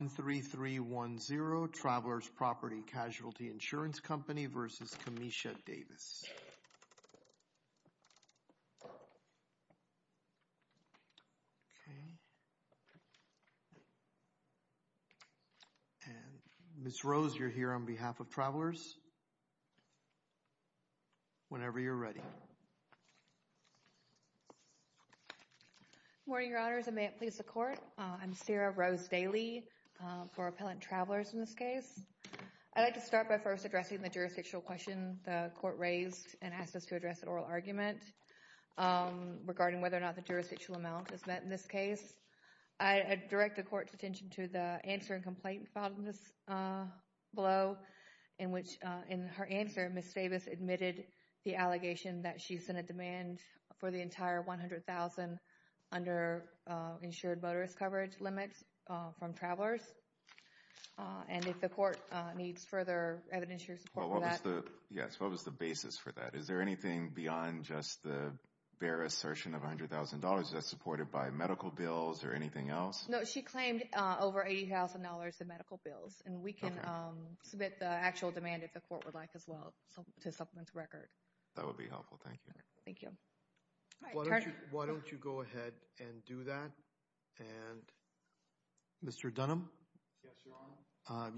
23310 Travelers Property Casualty Insurance Company v. Kamesha Davis Ms. Rose you're here on behalf of Travelers whenever you're ready Good morning your honors and may it please the court I'm Sarah Rose Daly for Appellant Travelers in this case. I'd like to start by first addressing the jurisdictional question the court raised and asked us to address an oral argument regarding whether or not the jurisdictional amount is met in this case. I direct the court's attention to the answer and complaint filed in this below in which in her answer Ms. Davis admitted the allegation that she's in a demand for the entire $100,000 under insured motorist coverage limits from Travelers and if the court needs further evidence your support for that. Yes what was the basis for that is there anything beyond just the bare assertion of $100,000 that's supported by medical bills or anything else? No she claimed over $80,000 in medical bills and we can submit the actual demand if the court would like as well to supplement the record. That would be helpful thank you. Thank you. Why don't you go ahead and do that and Mr. Dunham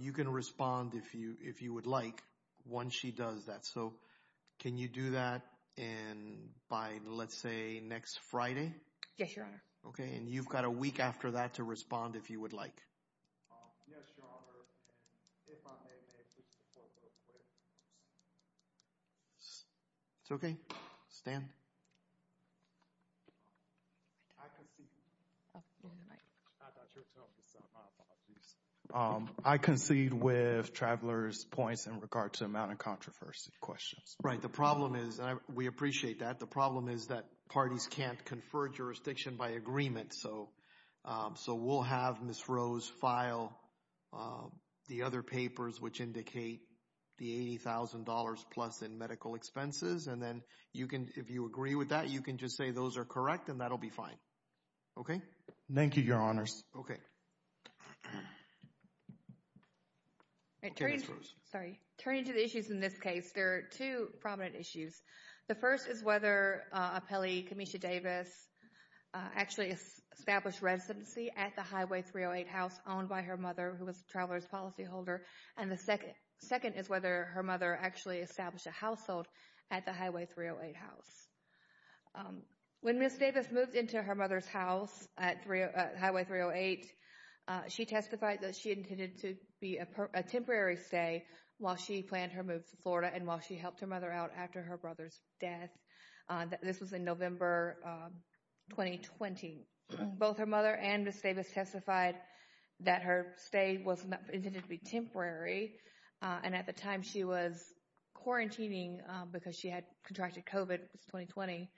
you can respond if you if you would like once she does that so can you do that and by let's say next Friday? Yes your honor. Okay and you've got a week after that to respond if you would like. Yes your honor and if I may make this report real quick. It's okay stand. I concede with Travelers points in regard to amount of controversy questions. Right the problem is and we appreciate that the problem is that parties can't confer jurisdiction by agreement so so we'll have Ms. Rose file the other papers which indicate the $80,000 plus in medical expenses and then you can if you agree with that you can just say those are correct and that'll be fine. Okay thank you your honors. Okay. Sorry turning to the issues in this case there are two prominent issues. The first is whether Appellee Kamisha Davis actually established residency at the Highway 308 house owned by her mother who was Travelers policyholder and the second second is whether her mother actually established a household at the Highway 308 house. When Ms. Davis moved into her mother's house at Highway 308 she testified that she intended to be a temporary stay while she planned her move to Florida and while she helped her out after her brother's death. This was in November 2020. Both her mother and Ms. Davis testified that her stay was intended to be temporary and at the time she was quarantining because she had contracted COVID it was 2020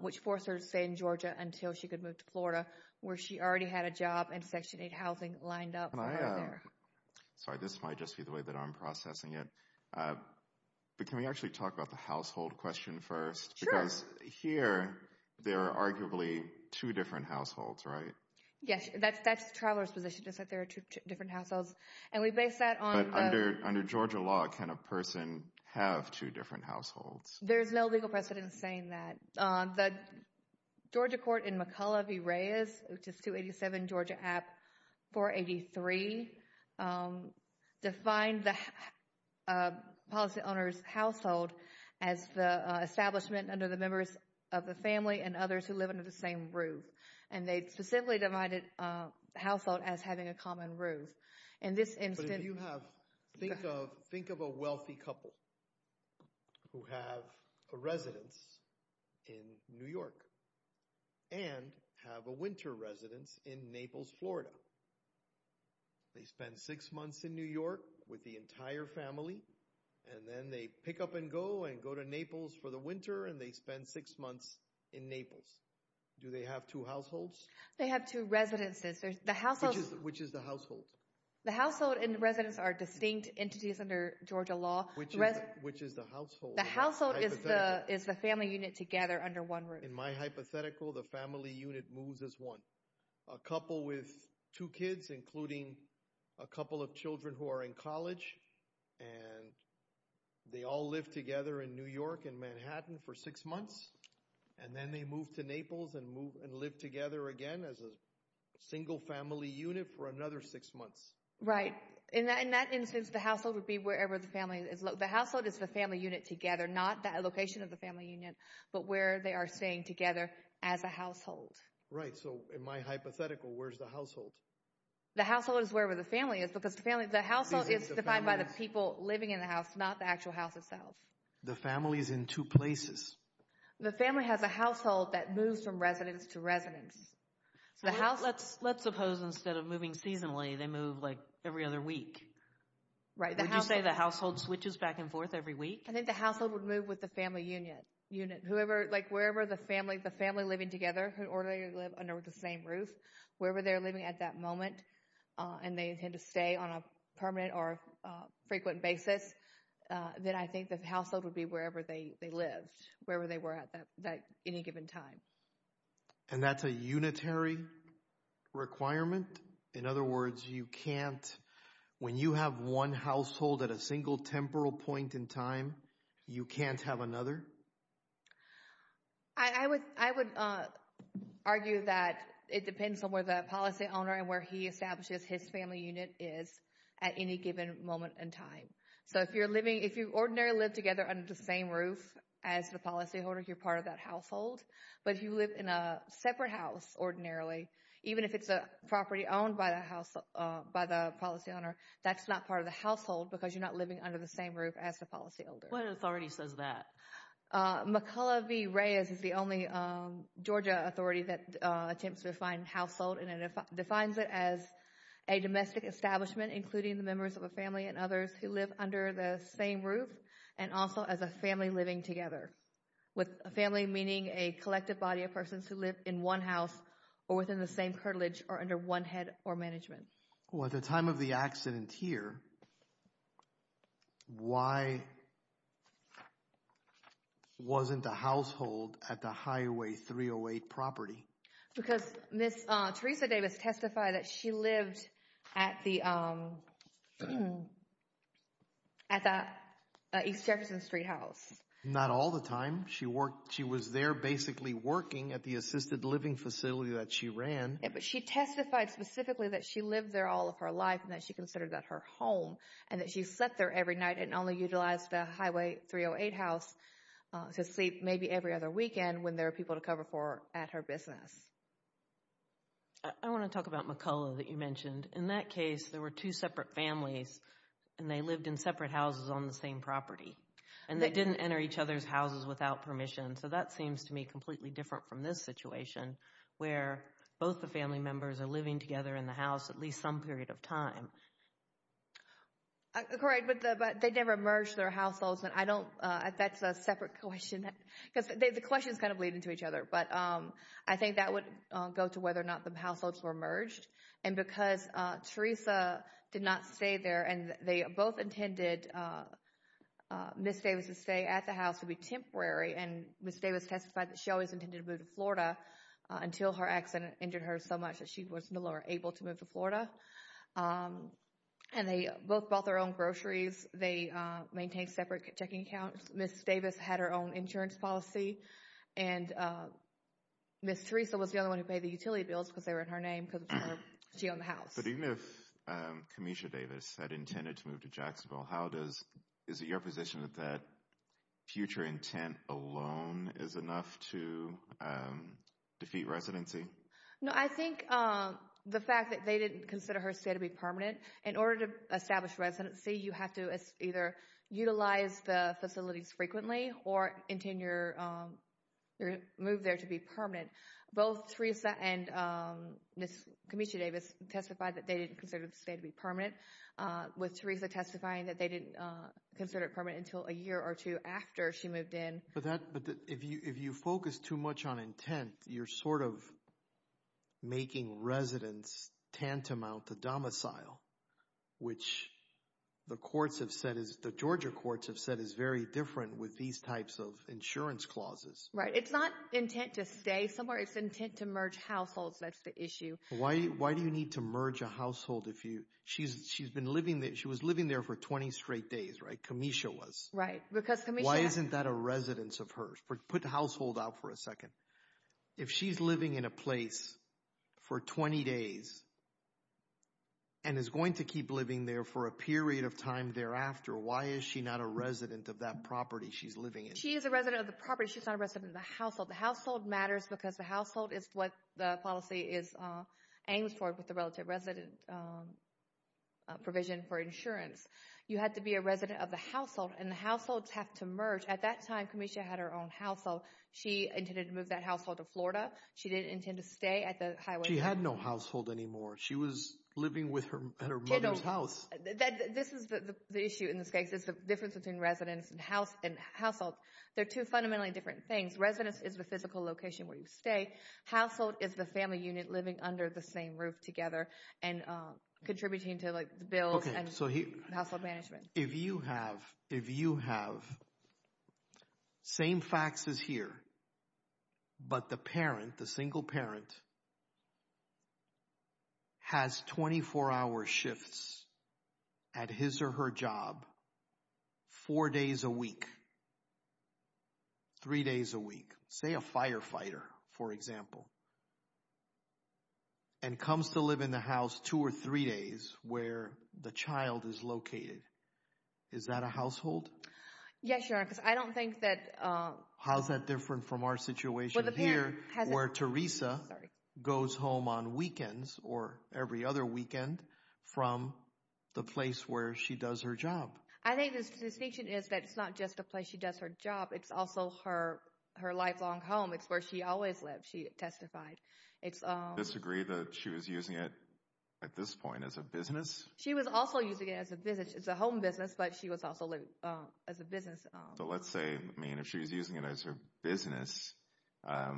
which forced her to stay in Georgia until she could move to Florida where she already had a job and section 8 housing lined up. Sorry this might just be the way that I'm processing it but can we actually talk about the household question first because here there are arguably two different households right? Yes that's that's the Travelers position just that there are two different households and we base that on. Under Georgia law can a person have two different households? There's no legal precedent saying that. The Georgia court in McCullough v. Reyes which is 287 Georgia app 483 defined the policy owners household as the establishment under the members of the family and others who live under the same roof and they specifically divided household as having a common roof. In this instance. Think of a wealthy couple who have a residence in New York with the entire family and then they pick up and go and go to Naples for the winter and they spend six months in Naples. Do they have two households? They have two residences. Which is the household? The household and residence are distinct entities under Georgia law. Which is the household? The household is the is the family unit together under one roof. In my hypothetical the family unit moves as one. A couple with two kids including a couple of children who are in college and they all live together in New York and Manhattan for six months and then they move to Naples and move and live together again as a single family unit for another six months. Right in that in that instance the household would be wherever the family is. The household is the family unit together not that location of the family union but where they are staying together as a household. Right so in my hypothetical where's the household? The household is wherever the family is because the family the household is defined by the people living in the house not the actual house itself. The family is in two places. The family has a household that moves from residence to residence. So let's suppose instead of moving seasonally they move like every other week. Right. Would you say the household switches back and forth every week? I think the household would move with the family unit. Whoever like wherever the family the family living together or they live under the same roof wherever they're living at that moment and they tend to stay on a permanent or frequent basis then I think the household would be wherever they lived wherever they were at that any given time. And that's a unitary requirement? In other words you can't when you have one household at a time. I would argue that it depends on where the policy owner and where he establishes his family unit is at any given moment in time. So if you're living if you ordinarily live together under the same roof as the policy holder you're part of that household. But if you live in a separate house ordinarily even if it's a property owned by the house by the policy owner that's not part of the household because you're not living under the same roof as the policy holder. What authority says that? McCullough v. Reyes is the only Georgia authority that attempts to define household and it defines it as a domestic establishment including the members of a family and others who live under the same roof and also as a family living together. With a family meaning a collective body of persons who live in one house or within the same heritage or one head or management. Well at the time of the accident here why wasn't a household at the highway 308 property? Because Ms. Teresa Davis testified that she lived at the East Jefferson Street house. Not all the time she worked she was there basically working at the assisted living facility that she ran. But she testified specifically that she lived there all of her life and that she considered that her home and that she slept there every night and only utilized the highway 308 house to sleep maybe every other weekend when there are people to cover for at her business. I want to talk about McCullough that you mentioned. In that case there were two separate families and they lived in separate houses on the same property and they didn't enter each other's houses without permission. So that seems to me completely different from this situation where both the family members are living together in the house at least some period of time. Correct but they never merged their households and I don't that's a separate question because the questions kind of lead into each other. But I think that would go to whether or not the households were merged and because Teresa did not stay there and they both intended Ms. Davis to stay at the house to be temporary and Ms. Davis testified that she always intended to move to Florida until her accident injured her so much that she was no longer able to move to Florida. And they both bought their own groceries. They maintained separate checking accounts. Ms. Davis had her own insurance policy and Ms. Teresa was the only one who paid the utility bills because they were in her name because she owned the house. But even if Kamisha Davis had intended to move to Jacksonville how does is it your position that future intent alone is enough to defeat residency? No I think the fact that they didn't consider her stay to be permanent. In order to establish residency you have to either utilize the facilities frequently or intend your move there to be permanent. Both Teresa and Ms. Kamisha Davis testified that they didn't consider the stay to be permanent with Teresa testifying that they didn't consider it permanent until a year or two after she moved in. But that but if you if you focus too much on intent you're sort of making residents tantamount to domicile which the courts have said is the Georgia courts have said is very different with these types of insurance clauses. Right it's not intent to stay somewhere it's intent to merge households that's the issue. Why why do you need to merge a household if you she's she's been living there she was living there for 20 straight days right? Kamisha was. Right. Why isn't that a residence of hers? Put the household out for a second. If she's living in a place for 20 days and is going to keep living there for a period of time thereafter why is she not a resident of that property she's living in? She is a resident of the property she's not a resident of the household. The household matters because the household is what the policy is aims for with the relative resident provision for insurance. You had to be a resident of the household and the households have to merge. At that time Kamisha had her own household she intended to move that household to Florida she didn't intend to stay at the highway. She had no household anymore she was living with her at her mother's house. This is the issue in this case is the difference between residence and house and household. They're two fundamentally different things. Residence is the physical location where you stay. Household is the family unit living under the same roof together and contributing to like the bills and household management. If you have same facts as here but the parent the single parent has 24-hour shifts at his or her job four days a week three days a week say a firefighter for example and comes to live in the house two or three days where the child is located is that a household? Yes your honor because I don't think that. How's that different from our situation here where Teresa goes home on weekends or every other weekend from the place where she does her job? I think the distinction is that it's not just a place she does her job it's also her her lifelong home it's where she always lived she testified. Do you disagree that she was using it at this point as a business? She was also using it as a business it's a home business but she was also living as a business. So let's say I mean if she's using it as her business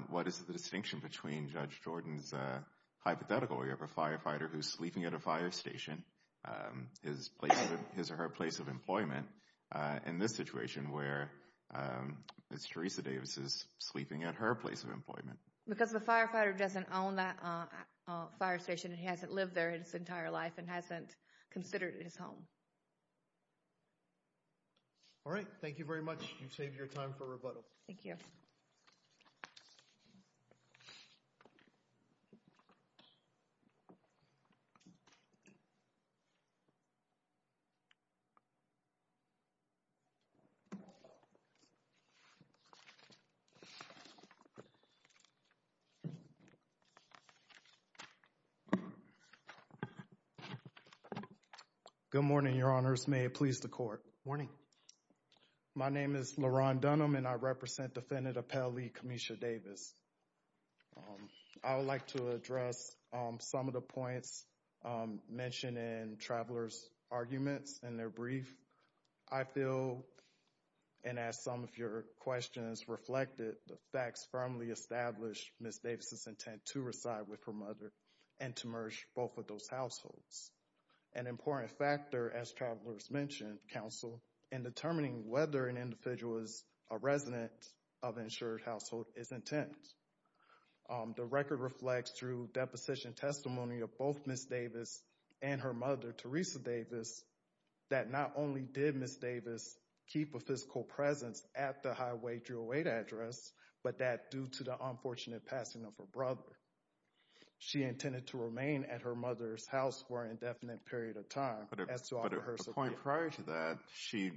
what is the distinction between Judge Jordan's hypothetical you have a firefighter who's sleeping at a fire station his place of his or her place of employment in this situation where it's Teresa Davis is sleeping at her place of employment? Because the firefighter doesn't own that fire station he hasn't lived there in his entire life and hasn't considered his home. All right thank you very much you've saved your time for rebuttal. Thank you. Good morning your honors may it please the court. Good morning. My name is Laron Dunham and I represent Defendant Appellee Kamisha Davis. I would like to address some of the points mentioned in travelers arguments in their brief. I feel and as some of your questions reflected the facts firmly established Ms. Davis's intent to reside with her mother and to merge both of those households. An important factor as travelers mentioned counsel in determining whether an individual is a resident of insured household is intent. The record reflects through deposition testimony of both Ms. Davis and her mother Teresa Davis that not only did Ms. Davis keep a physical presence at the highway 308 address but that due to the unfortunate passing of her brother she intended to remain at her mother's house for an indefinite period of time. But at a point prior to that she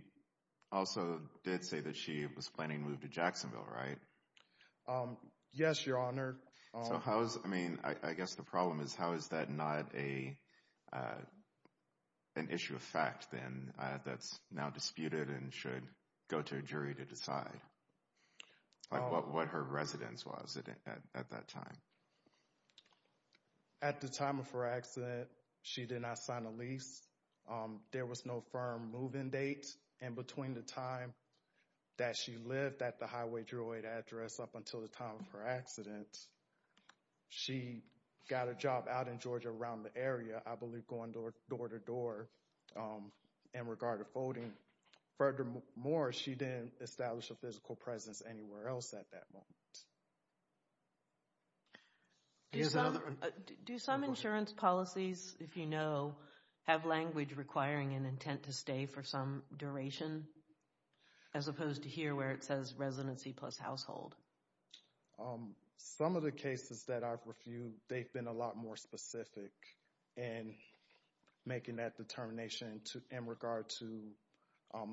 also did say that she was planning to move to Jacksonville right? Yes your honor. So how's I mean I guess the problem is how is that not a an issue of fact then that's now disputed and should go to a jury to decide what her residence was it at that time? At the time of her accident she did not sign a lease. There was no firm move-in date and between the time that she lived at the highway 308 address up until the time of her accident she got a job out in Georgia around the area I believe going door to door in regard to folding. Furthermore she didn't establish a physical presence anywhere else at that moment. Do some insurance policies if you know have language requiring an intent to stay for some duration as opposed to here where it says residency plus household? Some of the cases that I've reviewed they've been a lot more specific in making that determination to in regard to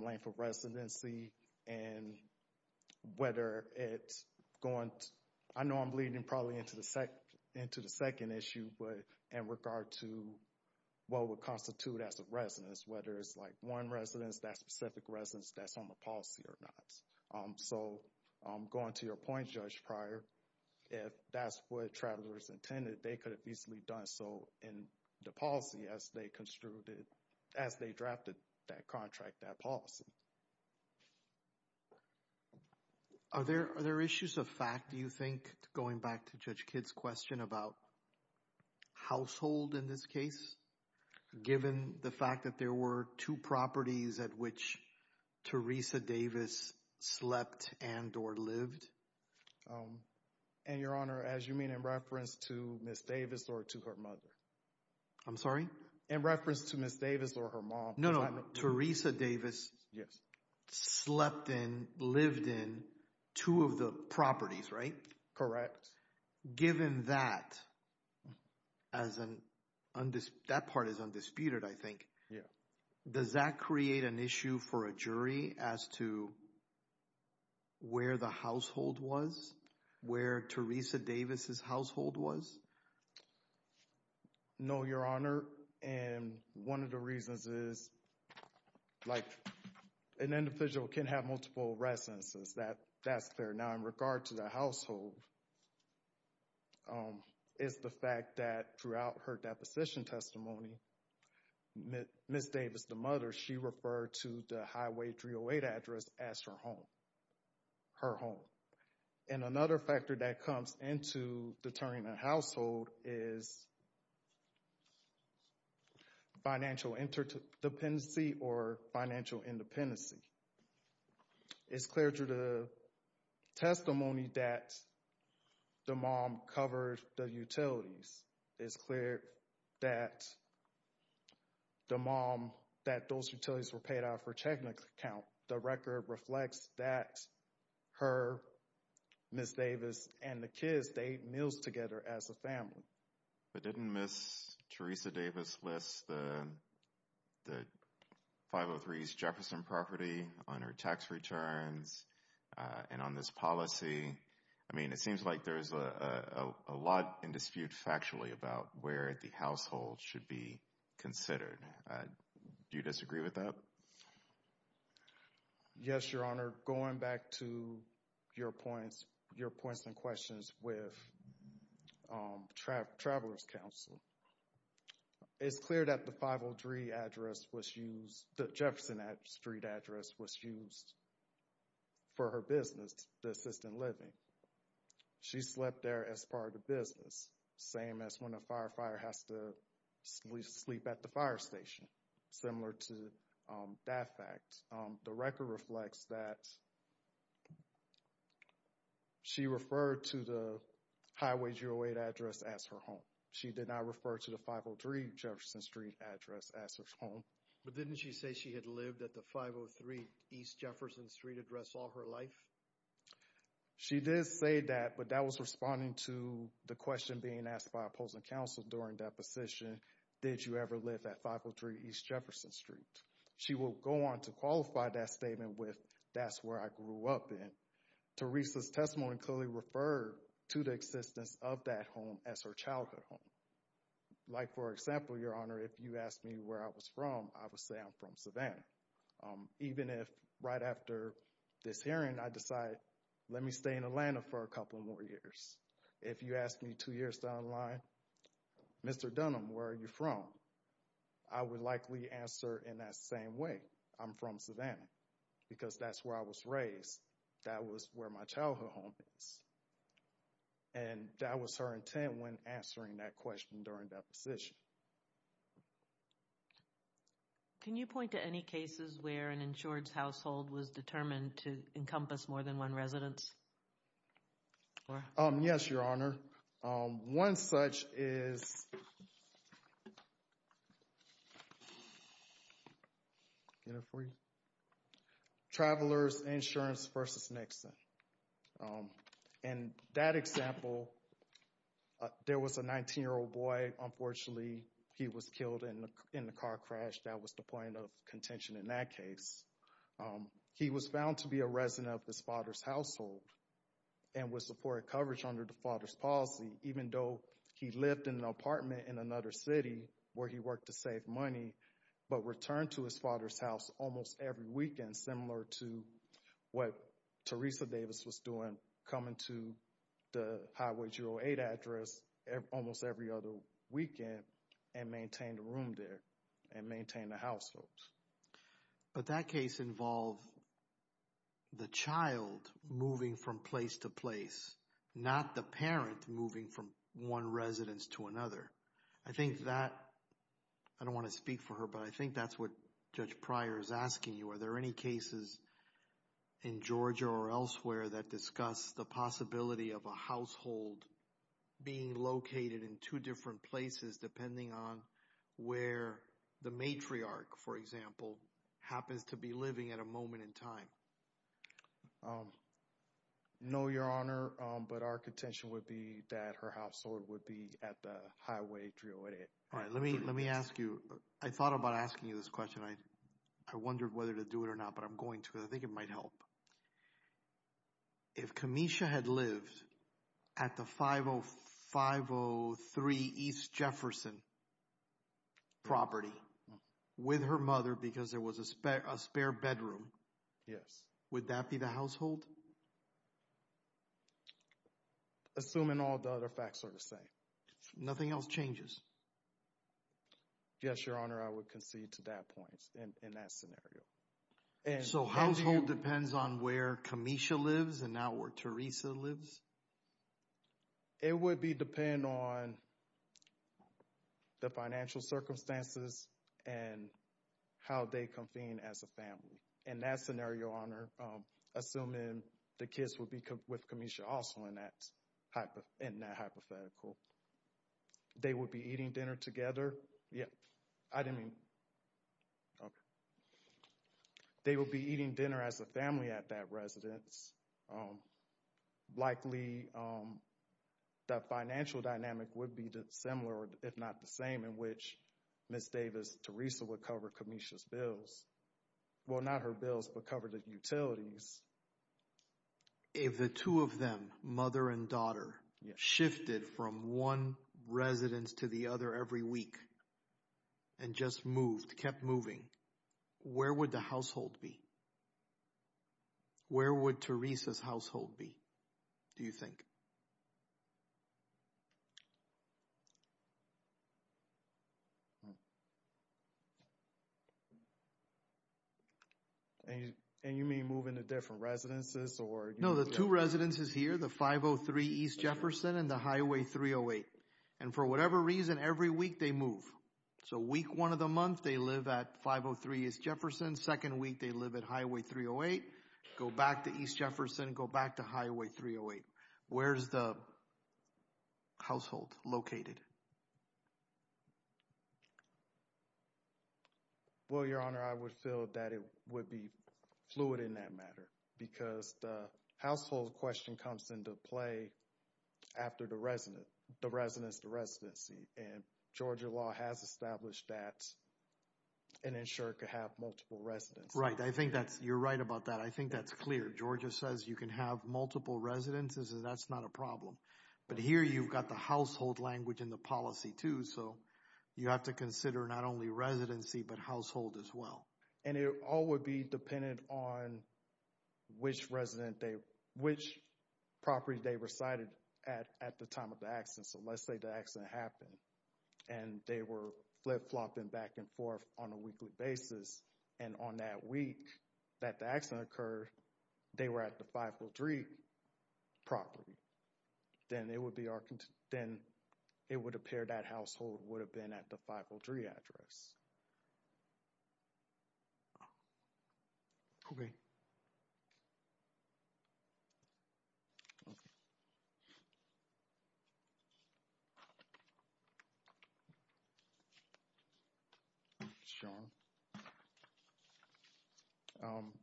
length of residency and whether it's going I know I'm bleeding probably into the second into the second issue but in regard to what would constitute as a residence whether it's like one residence that specific residence that's on the policy or not. So going to your point Judge Pryor if that's what travelers intended they could have easily done so in the policy as they construed it as they drafted that contract that policy. Are there are there issues of fact do you think going back to Judge Kidd's question about household in this case given the fact that there were two properties at which Teresa Davis slept and or lived? And your honor as you mean in reference to Miss Davis or to her mother? I'm sorry? In reference to Miss Davis or her mom. No no Teresa Davis yes slept in lived in two of the properties right? Correct. Given that as an undisputed that part is undisputed I think yeah does that create an issue for a jury as to where the household was? Where Teresa Davis's household was? No an individual can have multiple residences that that's fair. Now in regard to the household is the fact that throughout her deposition testimony Miss Davis the mother she referred to the highway 308 address as her home. Her home. And another factor that comes into determining a household is financial interdependency or financial independency. It's clear through the testimony that the mom covered the utilities. It's clear that the mom that those utilities were paid out for checking account. The record reflects that her Miss Davis and the 503 Jefferson property on her tax returns and on this policy. I mean it seems like there's a lot in dispute factually about where the household should be considered. Do you disagree with that? Yes your honor going back to your points your points and questions with Travelers Council. It's clear that the 503 address was used the Jefferson Street address was used for her business the assistant living. She slept there as part of the business. Same as when a firefighter has to sleep at the fire station. Similar to that fact the record reflects that she referred to the highway 08 address as her home. She did not refer to the 503 Jefferson Street address as her home. But didn't she say she had lived at the 503 East Jefferson Street address all her life? She did say that but that was responding to the question being asked by opposing counsel during deposition. Did you ever live at 503 East Jefferson Street? She will go on to qualify that statement with that's where I grew up in. Teresa's like for example your honor if you asked me where I was from I would say I'm from Savannah. Even if right after this hearing I decide let me stay in Atlanta for a couple more years. If you ask me two years down the line Mr. Dunham where are you from? I would likely answer in that same way I'm from Savannah because that's where I was raised. That was where my childhood home is. And that was her intent when answering that question during deposition. Can you point to any cases where an insured household was determined to encompass more than one residence? Yes your honor. One such is Travelers Insurance versus Nixon. In that example there was a 19 year old boy unfortunately he was killed in the car crash that was the point of contention in that case. He was found to be a resident of his father's household and was supported coverage under the father's policy even though he lived in an apartment in another city where he worked to save money but returned to his father's house almost every weekend similar to what Teresa Davis was doing coming to the highway 08 address almost every other weekend and maintain the room there and maintain the household. But that case involved the child moving from place to place not the parent moving from one residence to another. I think that I don't want to speak for her but I think that's what Judge Pryor is asking you are there any cases in Georgia or elsewhere that discuss the possibility of a household being located in two different places depending on where the matriarch for example happens to be living at a moment in time? No your honor but our contention would be that her household would be at the highway 08. All right let me let me ask you I thought about asking you this question I I wondered whether to do it or not but I'm going to I think it might help. If Kamesha had lived at the 50503 East Jefferson property with her mother because there was a spare a spare bedroom yes would that be the household? Assuming all the other facts are the same. Nothing else changes? Yes your honor I would concede to that point in that scenario. So household depends on where Kamesha lives and now where Teresa lives? It would be depend on the financial circumstances and how they convene as a family. In that scenario your honor assuming the kids would be with Kamesha also in that hypothetical they would be eating dinner together yeah I didn't mean okay they will be eating dinner as a family at that residence likely that financial dynamic would be dissimilar if not the same in which Miss Davis Teresa would cover Kamesha's bills well not her bills but cover the utilities. If the two of them mother and daughter shifted from one residence to the other every week and just moved kept moving where would the household be? Where would Teresa's household be? Do you think? And you mean moving to different residences or? No the two residences here the 503 East Jefferson and the highway 308 and for whatever reason every week they move so week one of the month they live at 503 East Jefferson second week they live at highway 308 go back to East Jefferson go back to highway 308 where's the household located? Well your honor I would feel that it would be fluid in that matter because the household question comes into play after the resident the residents the residency and Georgia law has established that and ensure to have multiple residents. Right I think that's you're right about that I think that's clear Georgia says you can have multiple residences and that's not a problem but here you've got the household language in the policy too so you have to consider not only residency but household as well. And it all would be dependent on which resident they which property they recited at at the time of the accident so let's say the accident happened and they were flip flopping back and forth on a weekly basis and on that week that the accident occurred they were at the 503 property then it would be our then it would appear that household would have been at the 503 address. Okay. Sean.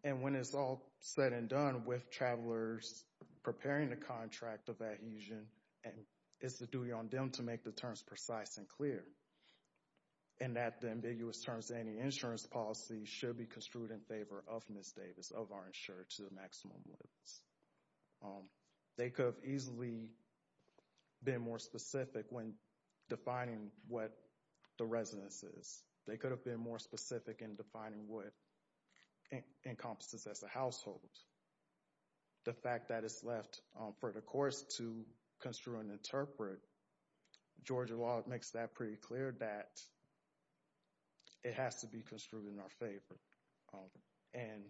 And when it's all said and done with travelers preparing the contract of adhesion and it's the duty on them to make the terms precise and clear and that the ambiguous terms any insurance policy should be construed in favor of Ms. Davis of our insurer to the maximum limits. They could have easily been more specific when defining what the residence is. They could have been more specific in defining what encompasses as a household. The fact that it's left for the courts to construe and interpret Georgia law makes that pretty clear that it has to be construed in our favor. And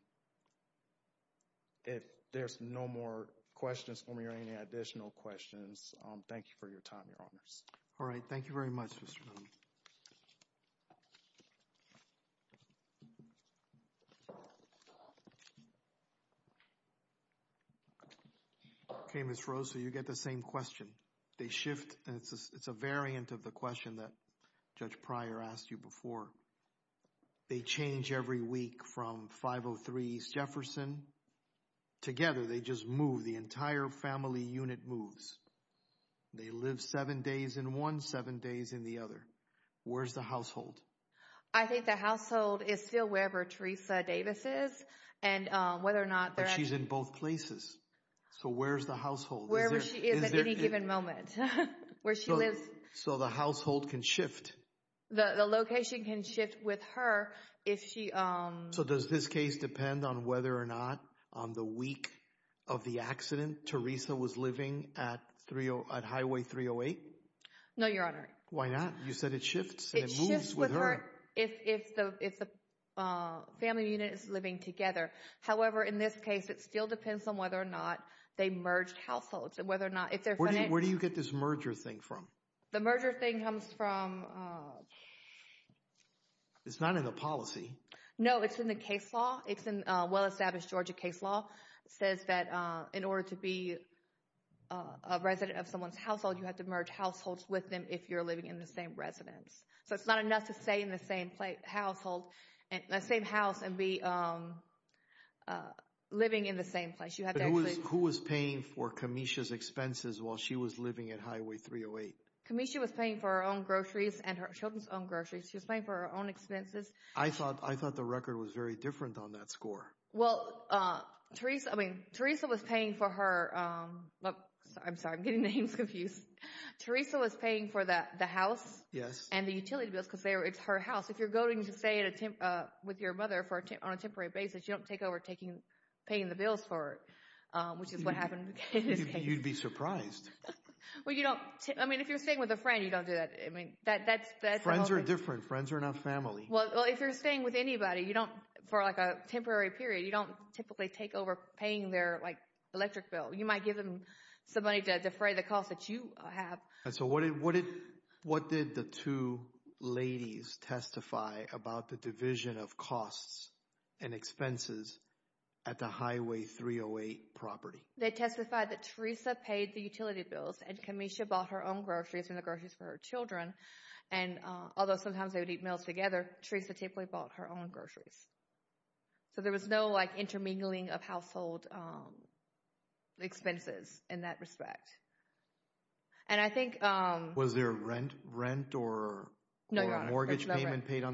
if there's no more questions for me or any additional questions thank you for your time your honors. All right thank you very much. Okay Ms. Rose so you get the same question they shift and it's a variant of the question that Judge Pryor asked you before. They change every week from 503 East Jefferson together they just move the entire family unit moves. They live seven days in one seven days in the other. Where's the household? I think the household is still wherever Teresa Davis is and whether or not she's in both places. So where's the household? Where she is at any given moment. Where she lives. So the household can shift. The location can shift with her if she. So does this case depend on whether or not on the week of the accident Teresa was living at 30 at Highway 308? No your honor. Why not? You said it shifts. It shifts with her if the family unit is living together. However in this case it still depends on whether or not they merged households and where do you get this merger thing from? The merger thing comes from. It's not in the policy. No it's in the case law. It's in well-established Georgia case law. It says that in order to be a resident of someone's household you have to merge households with them if you're living in the same residence. So it's not enough to stay in the same place household and the same house and be living in the same place. Who was paying for Camisha's expenses while she was living at Highway 308? Camisha was paying for her own groceries and her children's own groceries. She was paying for her own expenses. I thought I thought the record was very different on that score. Well Teresa I mean Teresa was paying for her I'm sorry I'm getting names confused. Teresa was paying for that the house. Yes. And the utility bills because it's her house. If you're going to stay with your mother on a temporary basis you don't take over paying the bills for it. Which is what happened. You'd be surprised. Well you don't I mean if you're staying with a friend you don't do that. I mean that that's that's. Friends are different. Friends are not family. Well if you're staying with anybody you don't for like a temporary period you don't typically take over paying their like electric bill. You might give them some money to defray the cost that you have. So what did what did what did the two ladies testify about the division of costs and expenses at the Highway 308 property? They testified that Teresa paid the utility bills and Camisha bought her own groceries and the groceries for her children and although sometimes they would eat meals together Teresa typically bought her own groceries. So there was no like intermingling of household expenses in that respect. And I paid on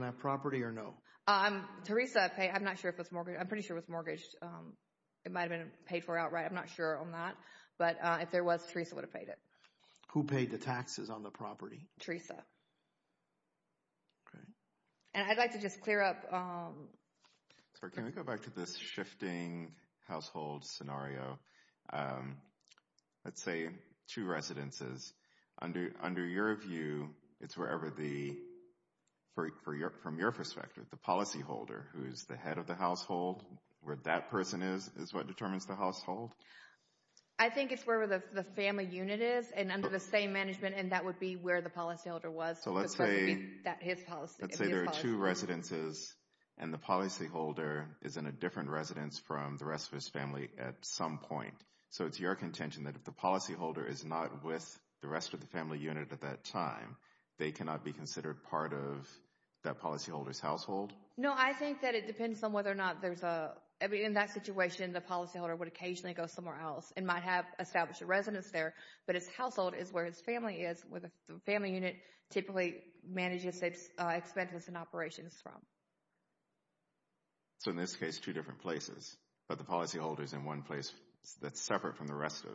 that property or no? I'm Teresa. I'm not sure if it's mortgage. I'm pretty sure it was mortgaged. It might have been paid for outright. I'm not sure on that. But if there was Teresa would have paid it. Who paid the taxes on the property? Teresa. And I'd like to just clear up. Can we go back to this shifting household scenario? Let's say two residences under under your view it's wherever the for your from your perspective the policyholder who is the head of the household where that person is is what determines the household? I think it's where the family unit is and under the same management and that would be where the policyholder was. So let's say there are two residences and the policyholder is in a different residence from the rest of his family at some point. So it's your contention that if the policyholder is not with the rest of the family unit at that time they cannot be considered part of that policyholders household? No I think that it depends on whether or not there's a in that situation the policyholder would occasionally go somewhere else and might have established a residence there but his household is where his family is where the family unit typically manages expenses and operations from. So in this case two different places but the policyholders in one place that's separate from the rest of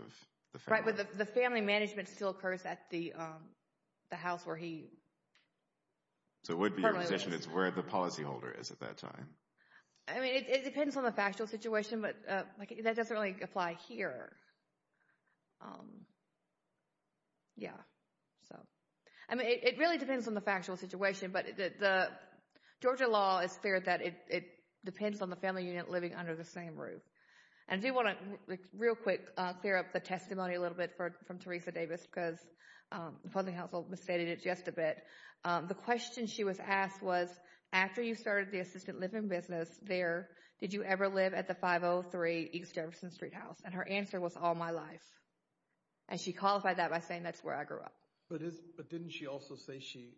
the family. Right, but the family management still occurs at the the house where he... So it would be your position it's where the policyholder is at that time? I mean it depends on the factual situation but that doesn't really apply here. Yeah so I mean it really depends on the factual situation but the Georgia law is clear that it depends on the family unit living under the same roof. And I do want to real quick clear up the testimony a little bit for from Teresa Davis because the Housing Council misstated it just a bit. The question she was asked was after you started the assistant living business there did you ever live at the 503 East Jefferson Street house and her answer was all my life. And she qualified that by saying that's where I grew up. But didn't she also say she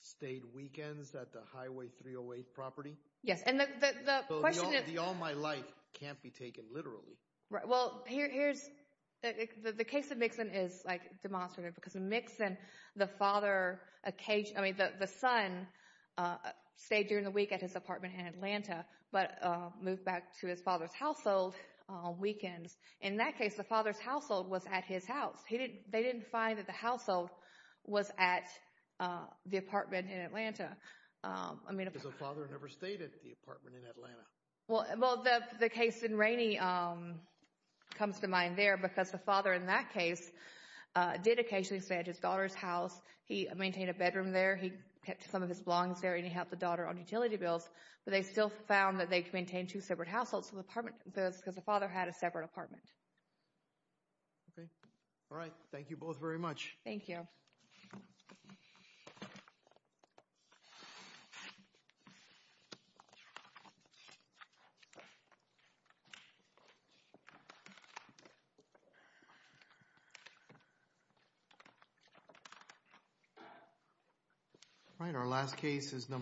stayed weekends at the Highway 308 property? Yes and the question is... So the all my life can't be taken literally. Right well here's the case of Mixon is like demonstrative because in Mixon the father occasionally I mean the son stayed during the week at his apartment in Atlanta but moved back to his father's household on weekends. In that case the father's household was at his house. He didn't they didn't find that the household was at the apartment in Atlanta. I mean if the father never stayed at the apartment in Atlanta. Well well the case in Rainey comes to mind there because the father in that case did occasionally stay at his daughter's house. He maintained a bedroom there. He kept some of his belongs there and he had the daughter on utility bills. But they still found that they could maintain two separate households so the apartment because the father had a separate apartment. All right thank you both very much. Thank you. All right our last case is number